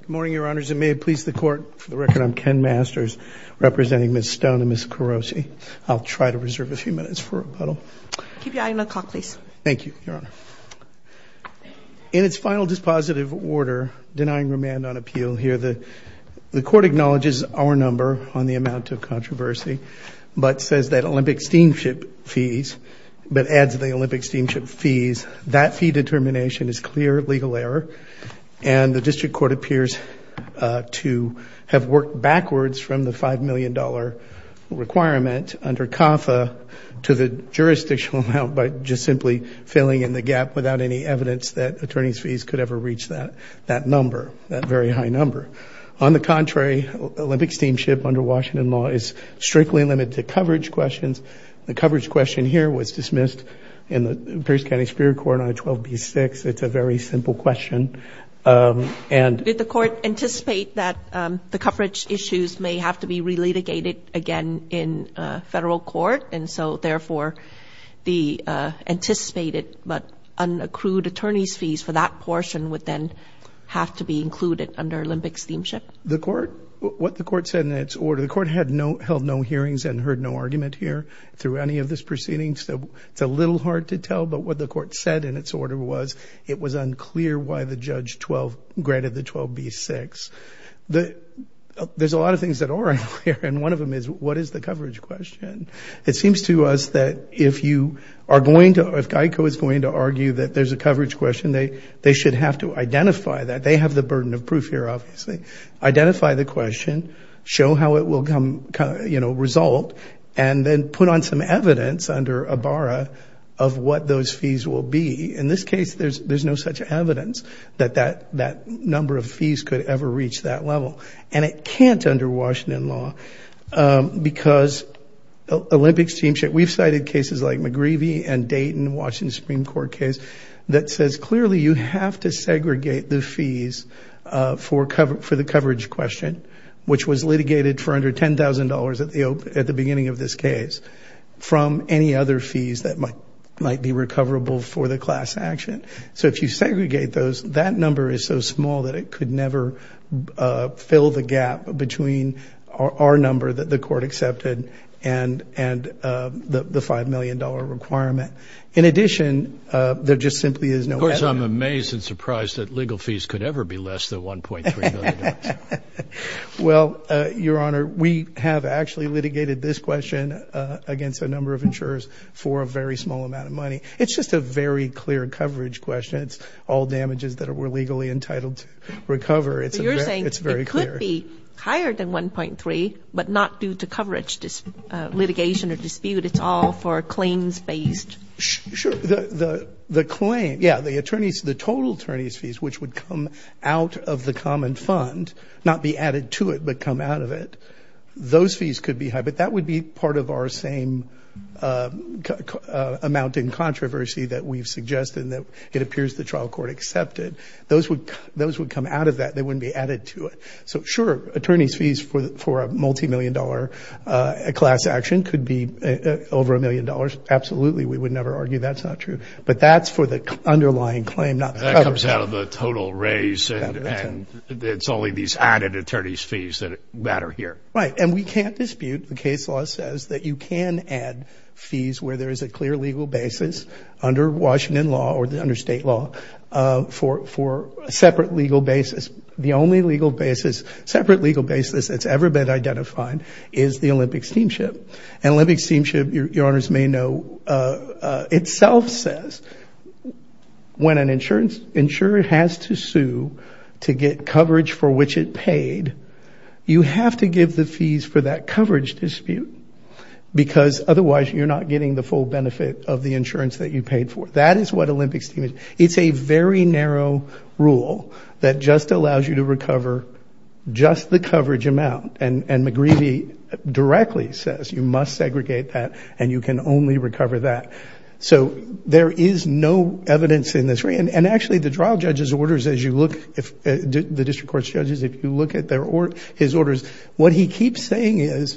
Good morning your honors and may it please the court for the record I'm Ken Masters representing Ms. Stone and Ms. Kurosi. I'll try to reserve a few minutes for rebuttal. Keep your eye on the clock please. Thank you your honor. In its final dispositive order denying remand on appeal here the the court acknowledges our number on the amount of controversy but says that Olympic steamship fees but adds the Olympic steamship fees that fee determination is clear legal error and the district court appears to have worked backwards from the five million dollar requirement under CAFA to the jurisdictional amount by just simply filling in the gap without any evidence that attorneys fees could ever reach that that number that very high number. On the contrary Olympic steamship under Washington law is strictly limited to coverage questions. The coverage question here was dismissed in the Pierce County Superior Court on 12b6. It's a very simple question and did the court anticipate that the coverage issues may have to be re-litigated again in federal court and so therefore the anticipated but unaccrued attorneys fees for that portion would then have to be included under Olympic steamship? The court what the court said in its order the court had no held no hearings and heard no argument here through any of this proceeding so it's a little hard to tell but what the court said in its order was it was unclear why the judge 12 granted the 12b6. There's a lot of things that aren't clear and one of them is what is the coverage question? It seems to us that if you are going to if GEICO is going to argue that there's a coverage question they they should have to identify that they have the burden of proof here obviously. Identify the question show how it will come you know result and then put on some evidence under Ibarra of what those fees will be. In this case there's there's no such evidence that that that number of fees could ever reach that level and it can't under Washington law because Olympics teamship we've cited cases like McGreevy and Dayton Washington Supreme Court case that says clearly you have to segregate the fees for cover for the coverage question which was litigated for under $10,000 at the opening at the beginning of this case from any other fees that might might be recoverable for the class action. So if you segregate those that number is so small that it could never fill the gap between our number that the court accepted and and the five million dollar requirement. In addition there just simply is no. Of course I'm amazed and surprised that legal fees could ever be less than 1.3 million. Well your honor we have actually litigated this question against a number of insurers for a very small amount of money. It's just a very clear coverage question. It's all damages that were legally entitled to recover. It's very clear. It could be higher than 1.3 but not due to coverage this litigation or dispute it's all for claims based. Sure the the claim yeah the attorneys the total attorneys fees which would come out of the common fund not be added to it but come out of it those fees could be high but that would be part of our same amount in controversy that we've suggested that it appears the trial court accepted. Those would those would come out of that they wouldn't be added to it. So sure attorneys fees for the for a multi-million dollar a class action could be over a million dollars. Absolutely we would never argue that's not true but that's for the underlying claim not that comes out of the total raise and it's only these added attorneys fees that matter here. Right and we can't dispute the case law says that you can add fees where there is a clear legal basis under Washington law or the under state law for for a separate legal basis. The only legal basis separate legal basis that's ever been identified is the Olympic Steamship and Olympic Steamship your honors may know itself says when an insurance insurer has to sue to get coverage for which it paid you have to give the fees for that coverage dispute because otherwise you're not getting the full benefit of the insurance that you paid for. That is what Olympic Steamship is. It's a very narrow rule that just allows you to recover just the coverage amount and and McGreevy directly says you must segregate that and you can only recover that. So there is no evidence in this ring and actually the trial judges orders as you look if the district courts judges if you look at their or his orders what he keeps saying is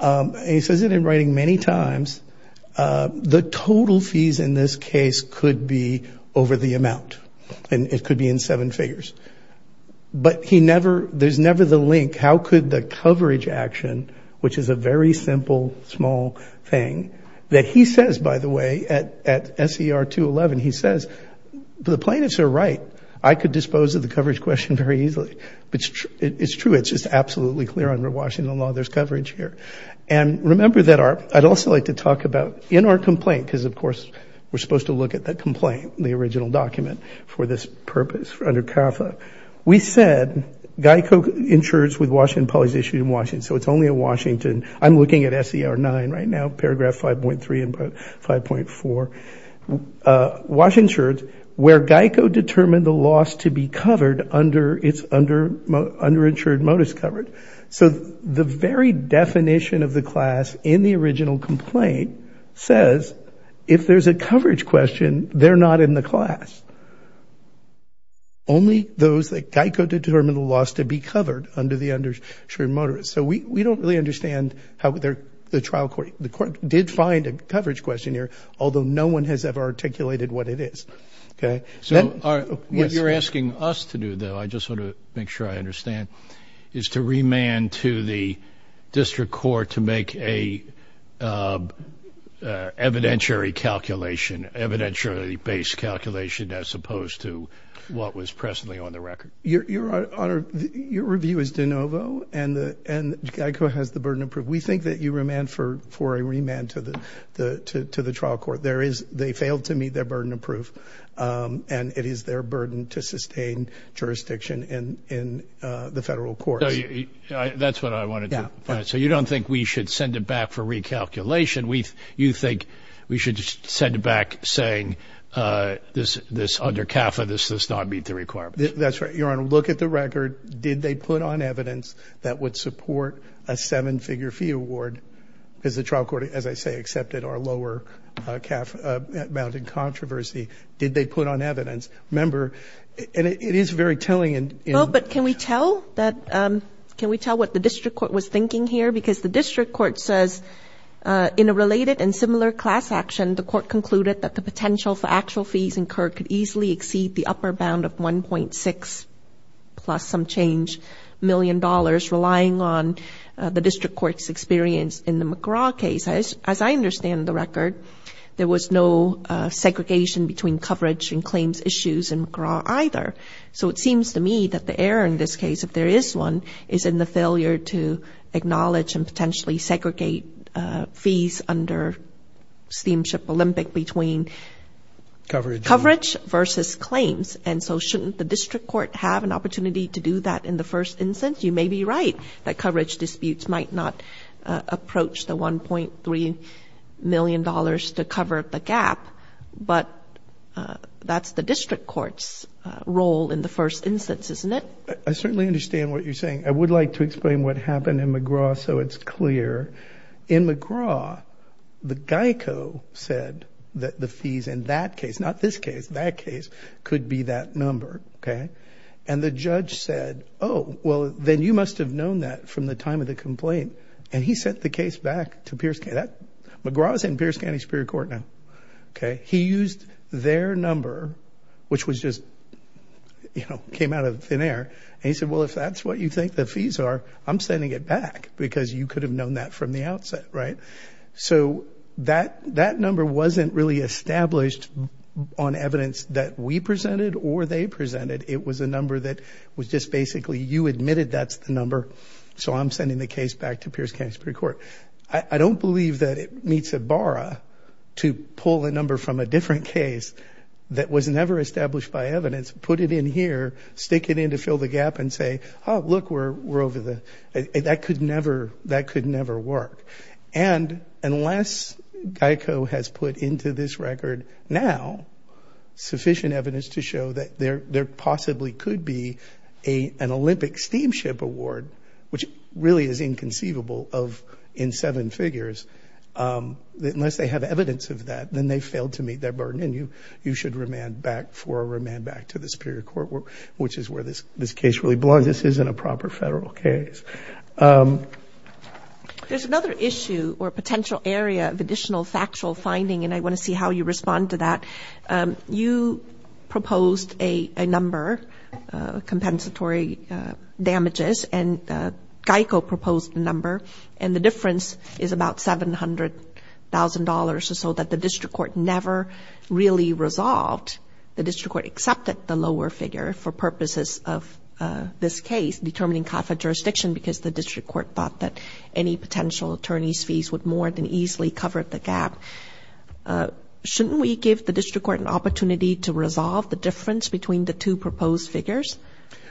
he says it in writing many times the total fees in this case could be over the amount and it could be in seven figures but he never there's never the link how could the coverage action which is a very simple small thing that he says by the way at at SER 211 he says the plaintiffs are right I could dispose of the coverage question very easily but it's true it's just absolutely clear under Washington law there's coverage here and remember that our I'd also like to talk about in our complaint because of course we're supposed to look at that complaint in the original document for this purpose for under CAFA we said Geico insurers with Washington Police issued in Washington so it's only a Washington I'm looking at SER 9 right now paragraph 5.3 and 5.4 Washington insured where Geico determined the loss to be covered under its under underinsured modus covered so the very definition of the class in the original complaint says if there's a coverage question they're not in the class only those that Geico determined the loss to be covered under the undershirt motorist so we we don't really understand how they're the trial court the court did find a coverage questionnaire although no one has ever articulated what it is okay so what you're asking us to do though I just want to make sure I understand is to remand to the district court to make a evidentiary calculation evidentiary based calculation as opposed to what was presently on the record your honor your review is DeNovo and the and Geico has the burden of proof we think that you remand for for a trial court there is they failed to meet their burden of proof and it is their burden to sustain jurisdiction in in the federal court yeah that's what I wanted yeah so you don't think we should send it back for recalculation we you think we should send it back saying this this under CAFA this does not meet the requirements that's right you're on a look at the record did they put on evidence that would support a seven-figure fee award is the trial court as I say accepted our lower CAFA mounted controversy did they put on evidence member and it is very telling and you know but can we tell that can we tell what the district court was thinking here because the district court says in a related and similar class action the court concluded that the potential for actual fees incurred could easily exceed the upper bound of 1.6 plus some change million dollars relying on the district courts experience in the case as I understand the record there was no segregation between coverage and claims issues and either so it seems to me that the error in this case if there is one is in the failure to acknowledge and potentially segregate fees under steamship Olympic between coverage coverage versus claims and so shouldn't the district court have an opportunity to do that in the first instance you may be right that coverage disputes might not approach the 1.3 million dollars to cover the gap but that's the district courts role in the first instance isn't it I certainly understand what you're saying I would like to explain what happened in McGraw so it's clear in McGraw the Geico said that the fees in that case not this case that case could be that number okay and the judge said oh well then you must have known that from the time of the complaint and he sent the case back to Pierce Canada McGraw's in Pierce County Superior Court now okay he used their number which was just you know came out of thin air and he said well if that's what you think the fees are I'm sending it back because you could have known that from the outset right so that that number wasn't really established on evidence that we presented or they presented it was a you admitted that's the number so I'm sending the case back to Pierce County Superior Court I don't believe that it meets a bar to pull a number from a different case that was never established by evidence put it in here stick it in to fill the gap and say oh look we're over the that could never that could never work and unless Geico has put into this record now sufficient evidence to show that there there possibly could be a an Olympic steamship award which really is inconceivable of in seven figures that unless they have evidence of that then they failed to meet their burden and you you should remand back for a remand back to the Superior Court work which is where this this case really belongs this isn't a proper federal case there's another issue or potential area of additional factual finding and I want to see how you respond to that you proposed a number compensatory damages and Geico proposed a number and the difference is about seven hundred thousand dollars or so that the district court never really resolved the district court accepted the lower figure for purposes of this case determining conflict jurisdiction because the district court thought that any potential attorneys fees would more than easily cover the gap shouldn't we give the district court an opportunity to resolve the difference between the two proposed figures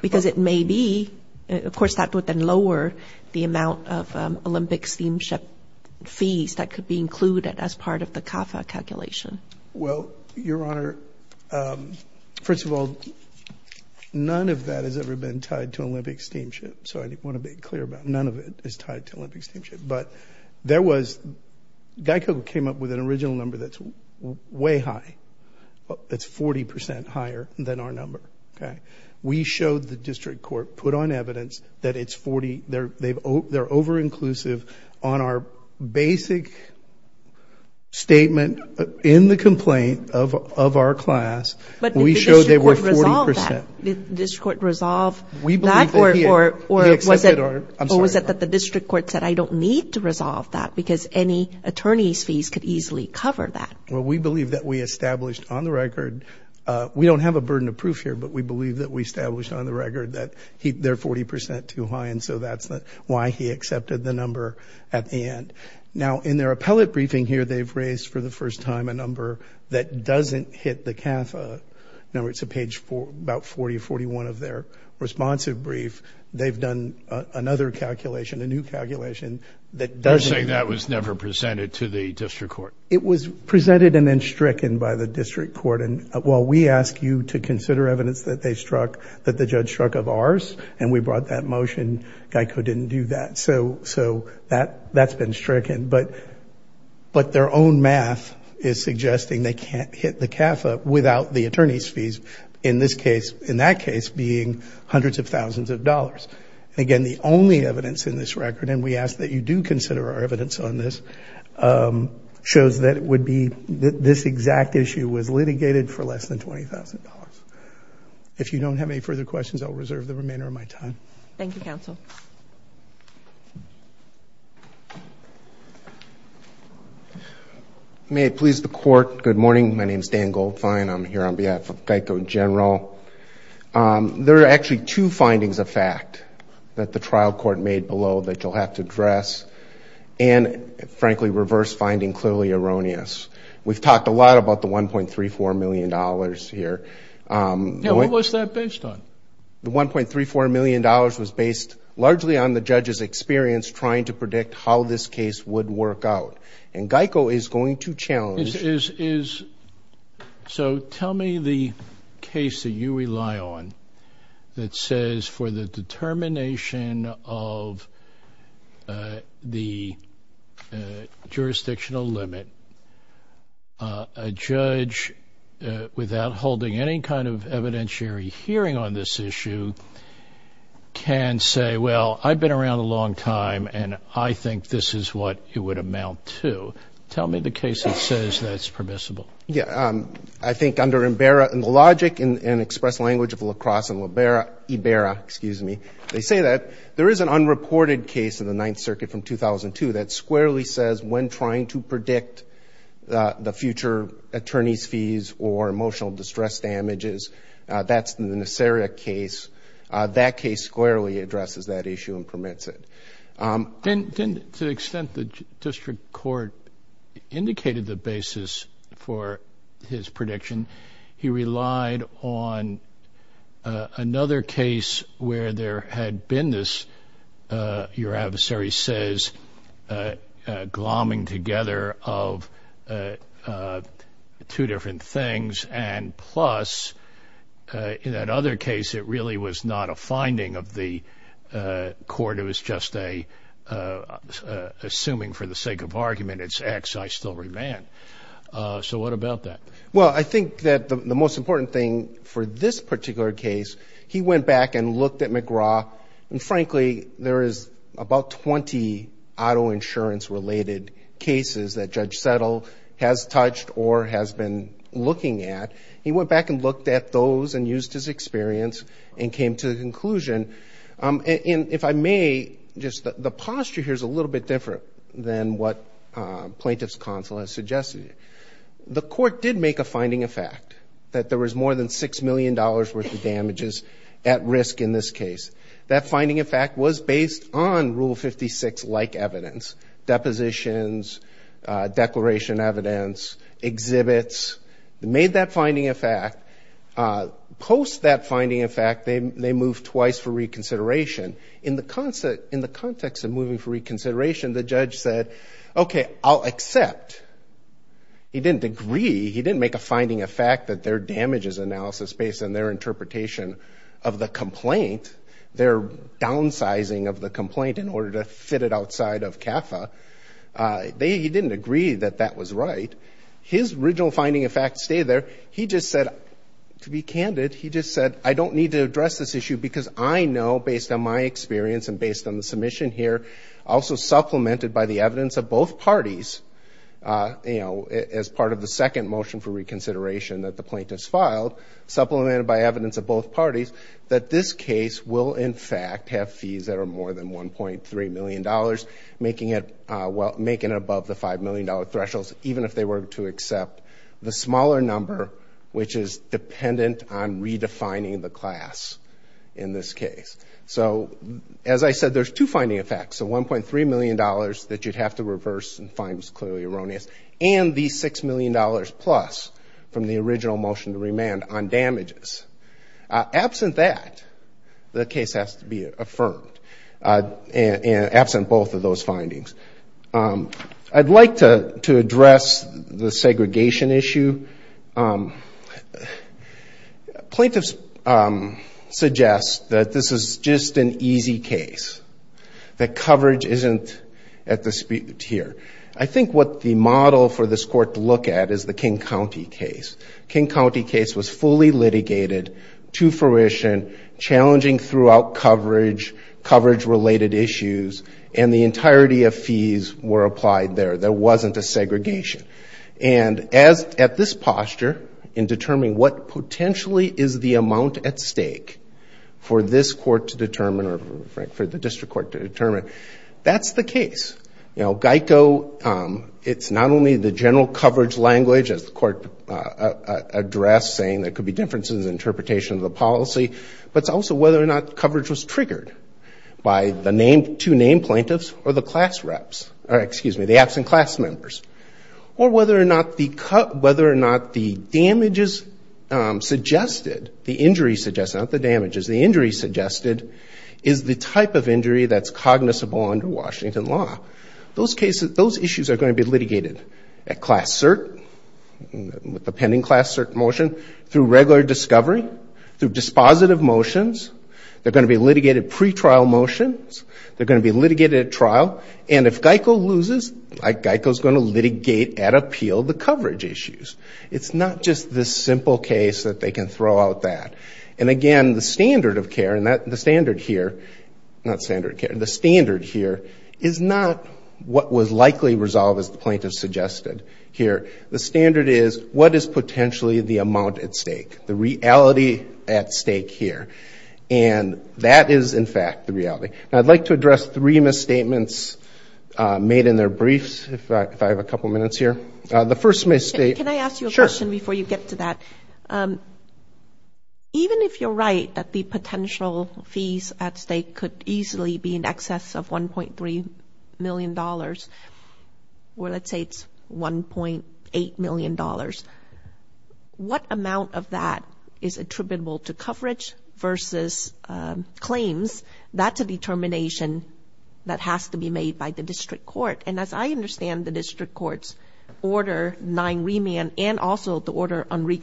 because it may be of course that would then lower the amount of Olympic steamship fees that could be included as part of the CAFA calculation well your honor first of all none of that has ever been tied to Olympic steamship so I didn't want to clear about none of it is tied to Olympic steamship but there was Geico came up with an original number that's way high that's 40% higher than our number okay we showed the district court put on evidence that it's 40 they're they've oh they're over inclusive on our basic statement in the complaint of our class but we showed they were 40% this court resolve we believe or or was it or was it that the district court said I don't need to resolve that because any attorneys fees could easily cover that well we believe that we established on the record we don't have a burden of proof here but we believe that we established on the record that their 40% too high and so that's not why he accepted the number at the end now in their appellate briefing here they've time a number that doesn't hit the CAFA number it's a page for about 40 41 of their responsive brief they've done another calculation a new calculation that does say that was never presented to the district court it was presented and then stricken by the district court and while we ask you to consider evidence that they struck that the judge struck of ours and we brought that motion Geico didn't do that so so that that's been stricken but but their own math is suggesting they can't hit the CAFA without the attorneys fees in this case in that case being hundreds of thousands of dollars again the only evidence in this record and we ask that you do consider our evidence on this shows that it would be that this exact issue was litigated for less than $20,000 if you don't have any further questions I'll reserve the remainder of my time thank you counsel may it please the court good morning my name is Dan Goldfine I'm here on behalf of Geico in general there are actually two findings of fact that the trial court made below that you'll have to address and frankly reverse finding clearly erroneous we've talked a lot about the 1.34 million dollars here what was that based on the 1.34 million dollars was based largely on the judge's experience trying to predict how this case would work out and Geico is going to challenge is so tell me the case that you rely on that says for the determination of the jurisdictional limit a judge without holding any kind of evidentiary hearing on this issue can say well I've been around a long time and I think this is what it would amount to tell me the case that says that's permissible yeah I think under Imbera and the logic in an express language of La Crosse and Libera Ibera excuse me they say that there is an unreported case in the Ninth Circuit from 2002 that squarely says when trying to predict the future attorney's fees or emotional distress damages that's the necessary a case that case squarely addresses that issue and permits it didn't extend the district court indicated the basis for his another case where there had been this your adversary says glomming together of two different things and plus in that other case it really was not a finding of the court it was just a assuming for the sake of argument it's X I still man so what about that well I think that the most important thing for this particular case he went back and looked at McGraw and frankly there is about 20 auto insurance related cases that judge settle has touched or has been looking at he went back and looked at those and used his experience and came to the conclusion and if I may just the posture here's a little bit different than what plaintiff's counsel has suggested the court did make a finding of fact that there was more than six million dollars worth of damages at risk in this case that finding in fact was based on rule 56 like evidence depositions declaration evidence exhibits made that finding a fact post that finding in fact they moved twice for reconsideration in the concept in the context of moving for I'll accept he didn't agree he didn't make a finding a fact that their damages analysis based on their interpretation of the complaint their downsizing of the complaint in order to fit it outside of CAFA they didn't agree that that was right his original finding a fact stay there he just said to be candid he just said I don't need to address this issue because I know based on my experience and based on the submission here also supplemented by the evidence of both parties you know as part of the second motion for reconsideration that the plaintiffs filed supplemented by evidence of both parties that this case will in fact have fees that are more than 1.3 million dollars making it well making above the five million dollar thresholds even if they were to accept the smaller number which is dependent on redefining the class in this case so as I said there's two finding a fact so 1.3 million dollars that you'd have to reverse and finds clearly erroneous and the six million dollars plus from the original motion to remand on damages absent that the case has to be affirmed and absent both of those findings I'd like to to address the segregation issue plaintiffs suggest that this is just an easy case that coverage isn't at the here I think what the model for this court to look at is the King County case King County case was fully litigated to fruition challenging throughout coverage coverage related issues and the entirety of fees were applied there there wasn't a segregation and as at this posture in determining what potentially is the amount at stake for this court to determine or Frank for the Geico it's not only the general coverage language as the court address saying there could be differences interpretation of the policy but also whether or not coverage was triggered by the name to name plaintiffs or the class reps or excuse me the absent class members or whether or not the cut whether or not the damages suggested the injury suggests out the damages the injury suggested is the type of injury that's cognizable under Washington law those cases those issues are going to be litigated at class cert with the pending class cert motion through regular discovery through dispositive motions they're going to be litigated pretrial motions they're going to be litigated at trial and if Geico loses Geico is going to litigate at appeal the coverage issues it's not just this simple case that they can throw out that and again the standard of care and that the standard here not standard care the standard here is not what was likely resolved as the plaintiffs suggested here the standard is what is potentially the amount at stake the reality at stake here and that is in fact the reality I'd like to address three misstatements made in their briefs if I have a couple minutes here the first mistake can I ask you a question before you get to that even if you're right that the potential fees at stake could easily be in excess of 1.3 million dollars well let's say it's 1.8 million dollars what amount of that is attributable to coverage versus claims that's a determination that has to be made by the district court and as I understand the district courts order nine remand and also the order on we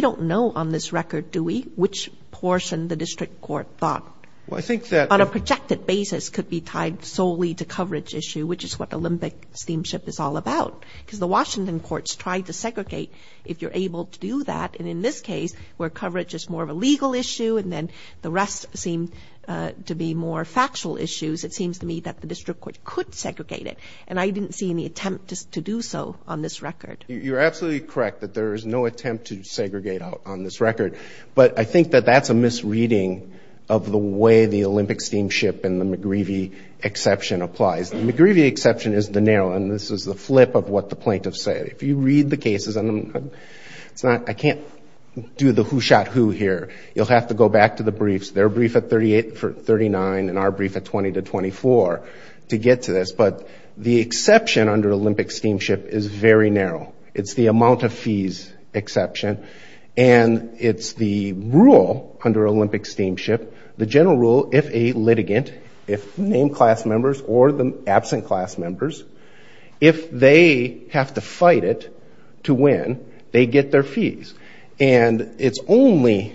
don't know on this record do we which portion the district court thought well I think that on a projected basis could be tied solely to coverage issue which is what the Olympic steamship is all about because the Washington courts tried to segregate if you're able to do that and in this case where coverage is more of a legal issue and then the rest seem to be more factual issues it seems to me that the district court could segregate it and I didn't see any attempt to do so on this record you're absolutely correct that there is no attempt to segregate out on this record but I think that that's a misreading of the way the Olympic steamship and the McGreevy exception applies the McGreevy exception is the narrow and this is the flip of what the plaintiff said if you read the cases and it's not I can't do the who shot who here you'll have to go back to the briefs their brief at 38 for 39 and our brief at 20 to 24 to get to this but the exception under Olympic steamship is very narrow it's the amount of fees exception and it's the rule under Olympic steamship the general rule if a litigant if named class members or the absent class members if they have to fight it to win they get their fees and it's only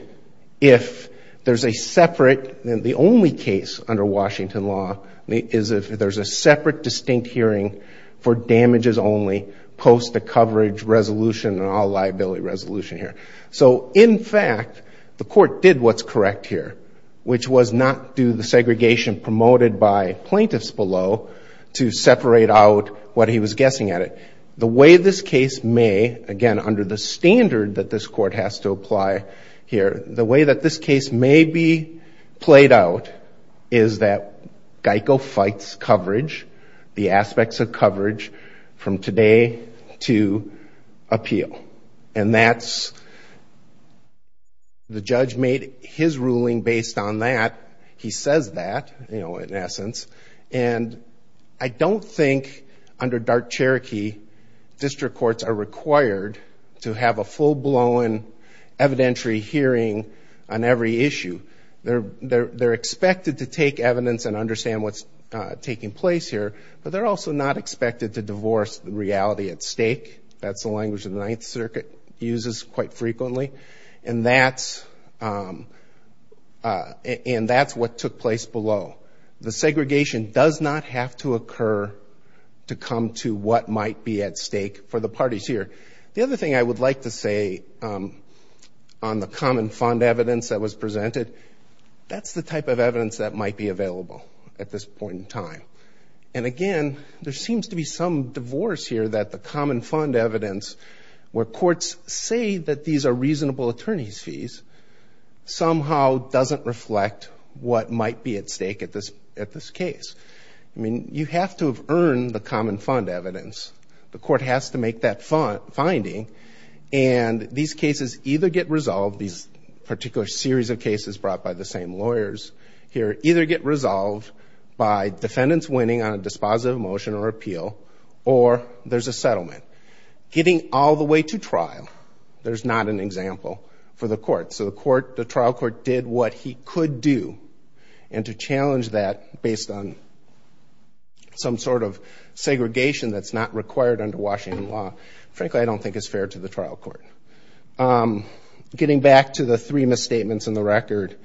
if there's a separate than the only case under Washington law is if there's a separate distinct hearing for all liability resolution here so in fact the court did what's correct here which was not do the segregation promoted by plaintiffs below to separate out what he was guessing at it the way this case may again under the standard that this court has to apply here the way that this case may be played out is that Geico fights coverage the aspects of coverage from today to appeal and that's the judge made his ruling based on that he says that you know in essence and I don't think under dark Cherokee district courts are required to have a full-blown evidentiary hearing on every issue they're they're they're expected to take evidence and taking place here but they're also not expected to divorce the reality at stake that's the language of the Ninth Circuit uses quite frequently and that's and that's what took place below the segregation does not have to occur to come to what might be at stake for the parties here the other thing I would like to say on the common fund evidence that was presented that's the type of and again there seems to be some divorce here that the common fund evidence where courts say that these are reasonable attorneys fees somehow doesn't reflect what might be at stake at this at this case I mean you have to have earned the common fund evidence the court has to make that fun finding and these cases either get resolved these particular series of cases brought by the same lawyers here either get resolved by defendants winning on a dispositive motion or appeal or there's a settlement getting all the way to trial there's not an example for the court so the court the trial court did what he could do and to challenge that based on some sort of segregation that's not required under Washington law frankly I don't think it's fair to the trial court getting back to the three misstatements in the record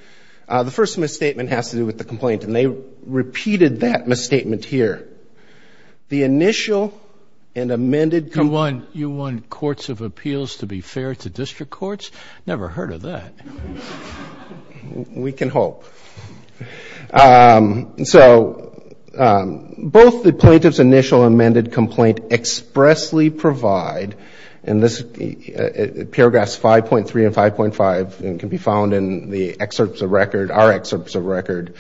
the first misstatement has to do with the complaint and they repeated that misstatement here the initial and amended come on you want courts of appeals to be fair to district courts never heard of that we can hope so both the plaintiffs initial amended complaint expressly provide and this paragraphs 5.3 and 5.5 and can be found in the excerpts of record our excerpts of record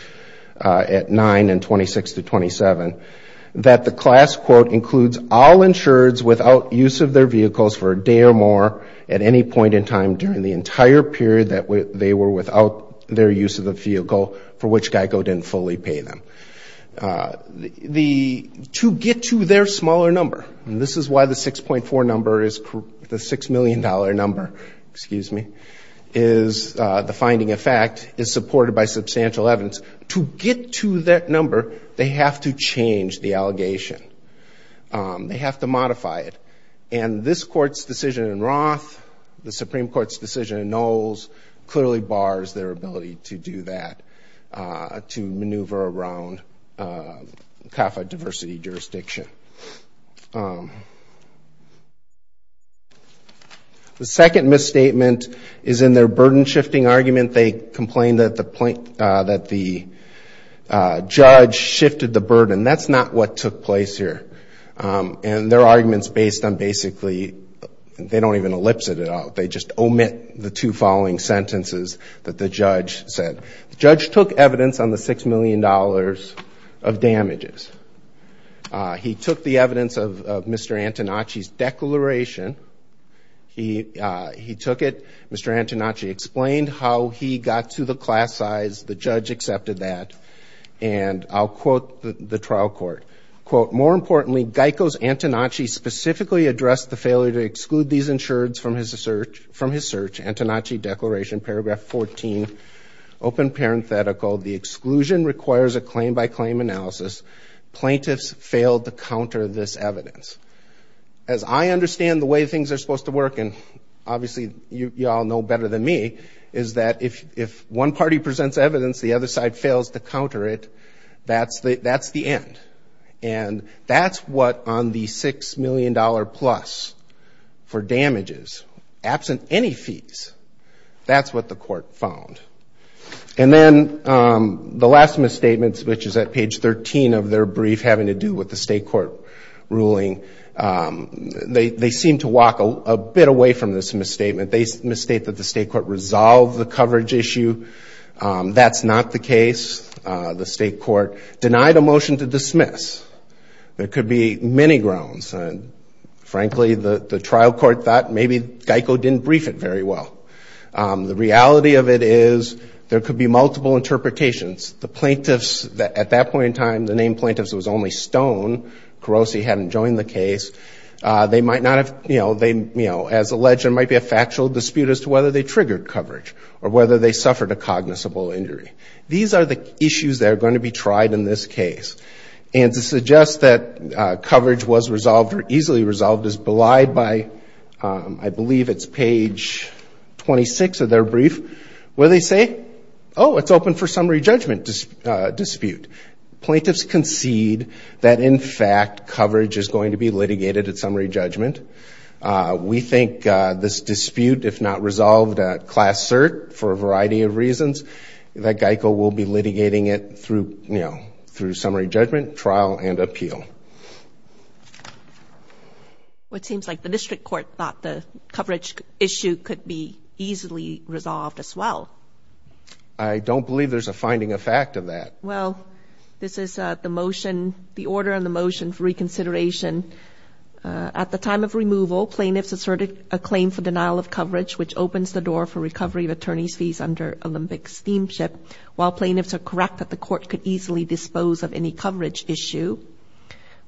at 9 and 26 to 27 that the class quote includes all insureds without use of their vehicles for a day or more at any point in time during the entire period that they were without their use of the vehicle for which Geico didn't fully pay them the to get to their smaller number this is why the 6.4 number is the six million dollar number excuse me is the finding of fact is supported by substantial evidence to get to that number they have to change the allegation they have to modify it and this court's decision in Roth the Supreme Court's decision in Knowles clearly bars their ability to do that to maneuver around kappa diversity jurisdiction the second misstatement is in their burden shifting argument they complained that the point that the judge shifted the burden that's not what took place here and their arguments based on basically they don't even ellipsis it out they just omit the two following sentences that the judge said judge took evidence on the six million dollars of damages he took the evidence of Mr. Antonacci declaration he he took it Mr. Antonacci explained how he got to the class size the judge accepted that and I'll quote the trial court quote more importantly Geico's Antonacci specifically addressed the failure to exclude these insureds from his search from his search Antonacci declaration paragraph 14 open parenthetical the exclusion requires a claim-by-claim analysis plaintiffs failed to counter this evidence as I understand the way things are supposed to work and obviously you all know better than me is that if if one party presents evidence the other side fails to counter it that's the that's the end and that's what on the six million dollar plus for damages absent any fees that's what the court found and then the last misstatements which is at page 13 of their brief having to do with the state court ruling they they seem to walk a bit away from this misstatement they state that the state court resolved the coverage issue that's not the case the state court denied a motion to dismiss there could be many grounds and frankly the the trial court thought maybe Geico didn't brief it very well the reality of it is there could be multiple interpretations the plaintiffs that at that point in time the name plaintiffs was only stone Kurosi hadn't joined the case they might not have you know they you know as alleged there might be a factual dispute as to whether they triggered coverage or whether they suffered a cognizable injury these are the issues that are going to be tried in this case and to suggest that coverage was resolved or easily resolved as belied by I believe it's page 26 of their brief where they say oh it's open for summary judgment dispute plaintiffs concede that in fact coverage is going to be litigated at summary judgment we think this dispute if not resolved at class cert for a variety of reasons that Geico will be you know through summary judgment trial and appeal what seems like the district court thought the coverage issue could be easily resolved as well I don't believe there's a finding a fact of that well this is the motion the order on the motion for reconsideration at the time of removal plaintiffs asserted a claim for denial of coverage which opens the door for recovery of attorneys fees under Olympic steamship while plaintiffs are correct that the court could easily dispose of any coverage issue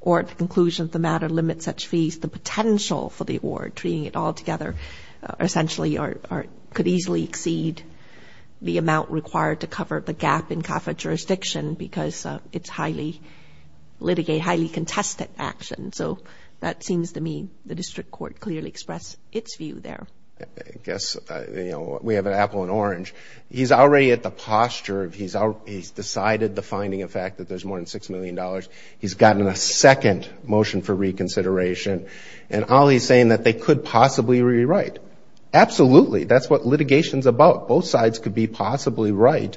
or at the conclusion of the matter limit such fees the potential for the award treating it all together essentially or could easily exceed the amount required to cover the gap in CAFA jurisdiction because it's highly litigate highly contested action so that seems to me the district court clearly expressed its view there yes you know we have an apple and orange he's already at the posture of he's out he's decided the finding of fact that there's more than six million dollars he's gotten a second motion for reconsideration and all he's saying that they could possibly rewrite absolutely that's what litigation is about both sides could be possibly right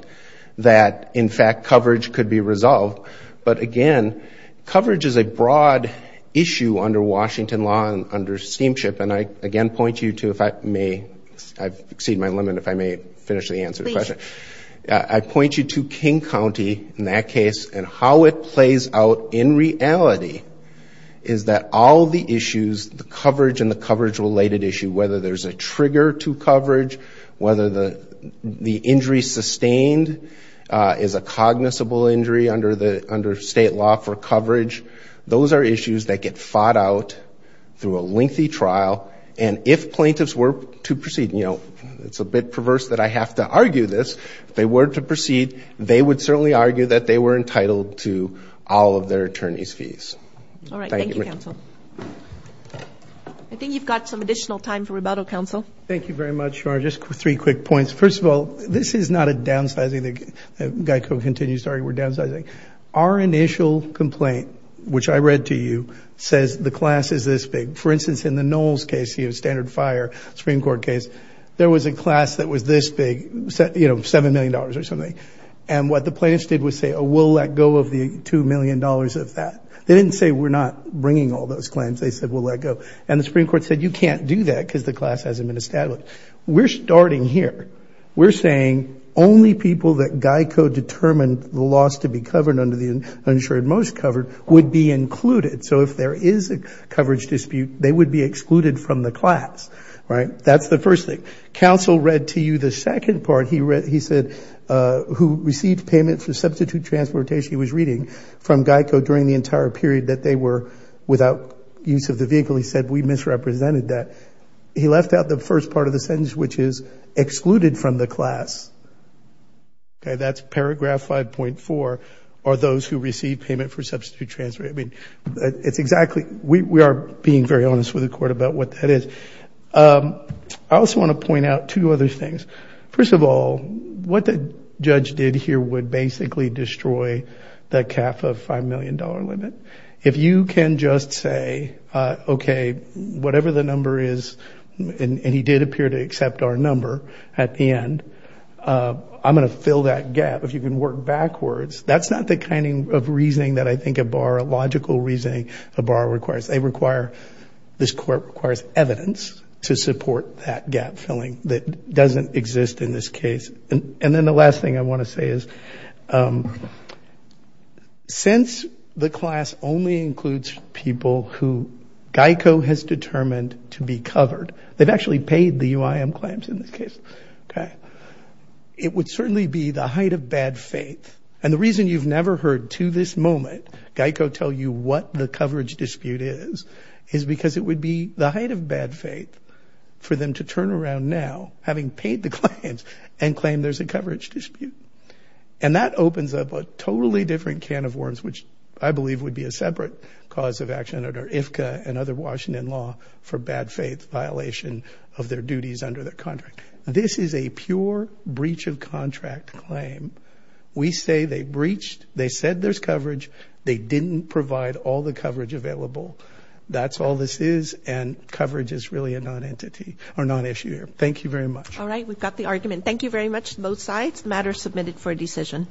that in fact coverage could be resolved but again coverage is a broad issue under Washington law and under steamship and I again point you to if I may I've exceeded my limit if I may finish the answer question I point you to King County in that case and how it plays out in reality is that all the issues the coverage and the coverage related issue whether there's a trigger to coverage whether the the injury sustained is a cognizable injury under the under state law for coverage those are issues that get fought out through a you know it's a bit perverse that I have to argue this they were to proceed they would certainly argue that they were entitled to all of their attorneys fees all right I think you've got some additional time for rebuttal counsel thank you very much for just three quick points first of all this is not a downsizing the guy who continues sorry we're downsizing our initial complaint which I read to you says the class is this big for instance in the Knowles case you have standard fire Supreme Court case there was a class that was this big set you know seven million dollars or something and what the plaintiffs did was say oh we'll let go of the two million dollars of that they didn't say we're not bringing all those claims they said we'll let go and the Supreme Court said you can't do that because the class hasn't been established we're starting here we're saying only people that Geico determined the loss to be covered under the uninsured most covered would be included so if there is a coverage dispute they would be excluded from the class right that's the first thing counsel read to you the second part he read he said who received payment for substitute transportation he was reading from Geico during the entire period that they were without use of the vehicle he said we misrepresented that he left out the first part of the sentence which is excluded from the class okay that's paragraph 5.4 are those who receive payment for substitute transportation it's exactly we are being very honest with the court about what that is I also want to point out two other things first of all what the judge did here would basically destroy that cap of five million dollar limit if you can just say okay whatever the number is and he did appear to accept our number at the end I'm gonna fill that gap if you can work backwards that's not the kind of reasoning that I think a bar a logical reasoning a bar requires they require this court requires evidence to support that gap filling that doesn't exist in this case and and then the last thing I want to say is since the class only includes people who Geico has determined to be covered they've actually paid the UIM claims in this case okay it would certainly be the the reason why I've heard to this moment Geico tell you what the coverage dispute is is because it would be the height of bad faith for them to turn around now having paid the claims and claim there's a coverage dispute and that opens up a totally different can of worms which I believe would be a separate cause of action under IFCA and other Washington law for bad faith violation of their duties under their contract this is a pure breach of there's coverage they didn't provide all the coverage available that's all this is and coverage is really a non-entity or non-issuer thank you very much all right we've got the argument thank you very much both sides matter submitted for a decision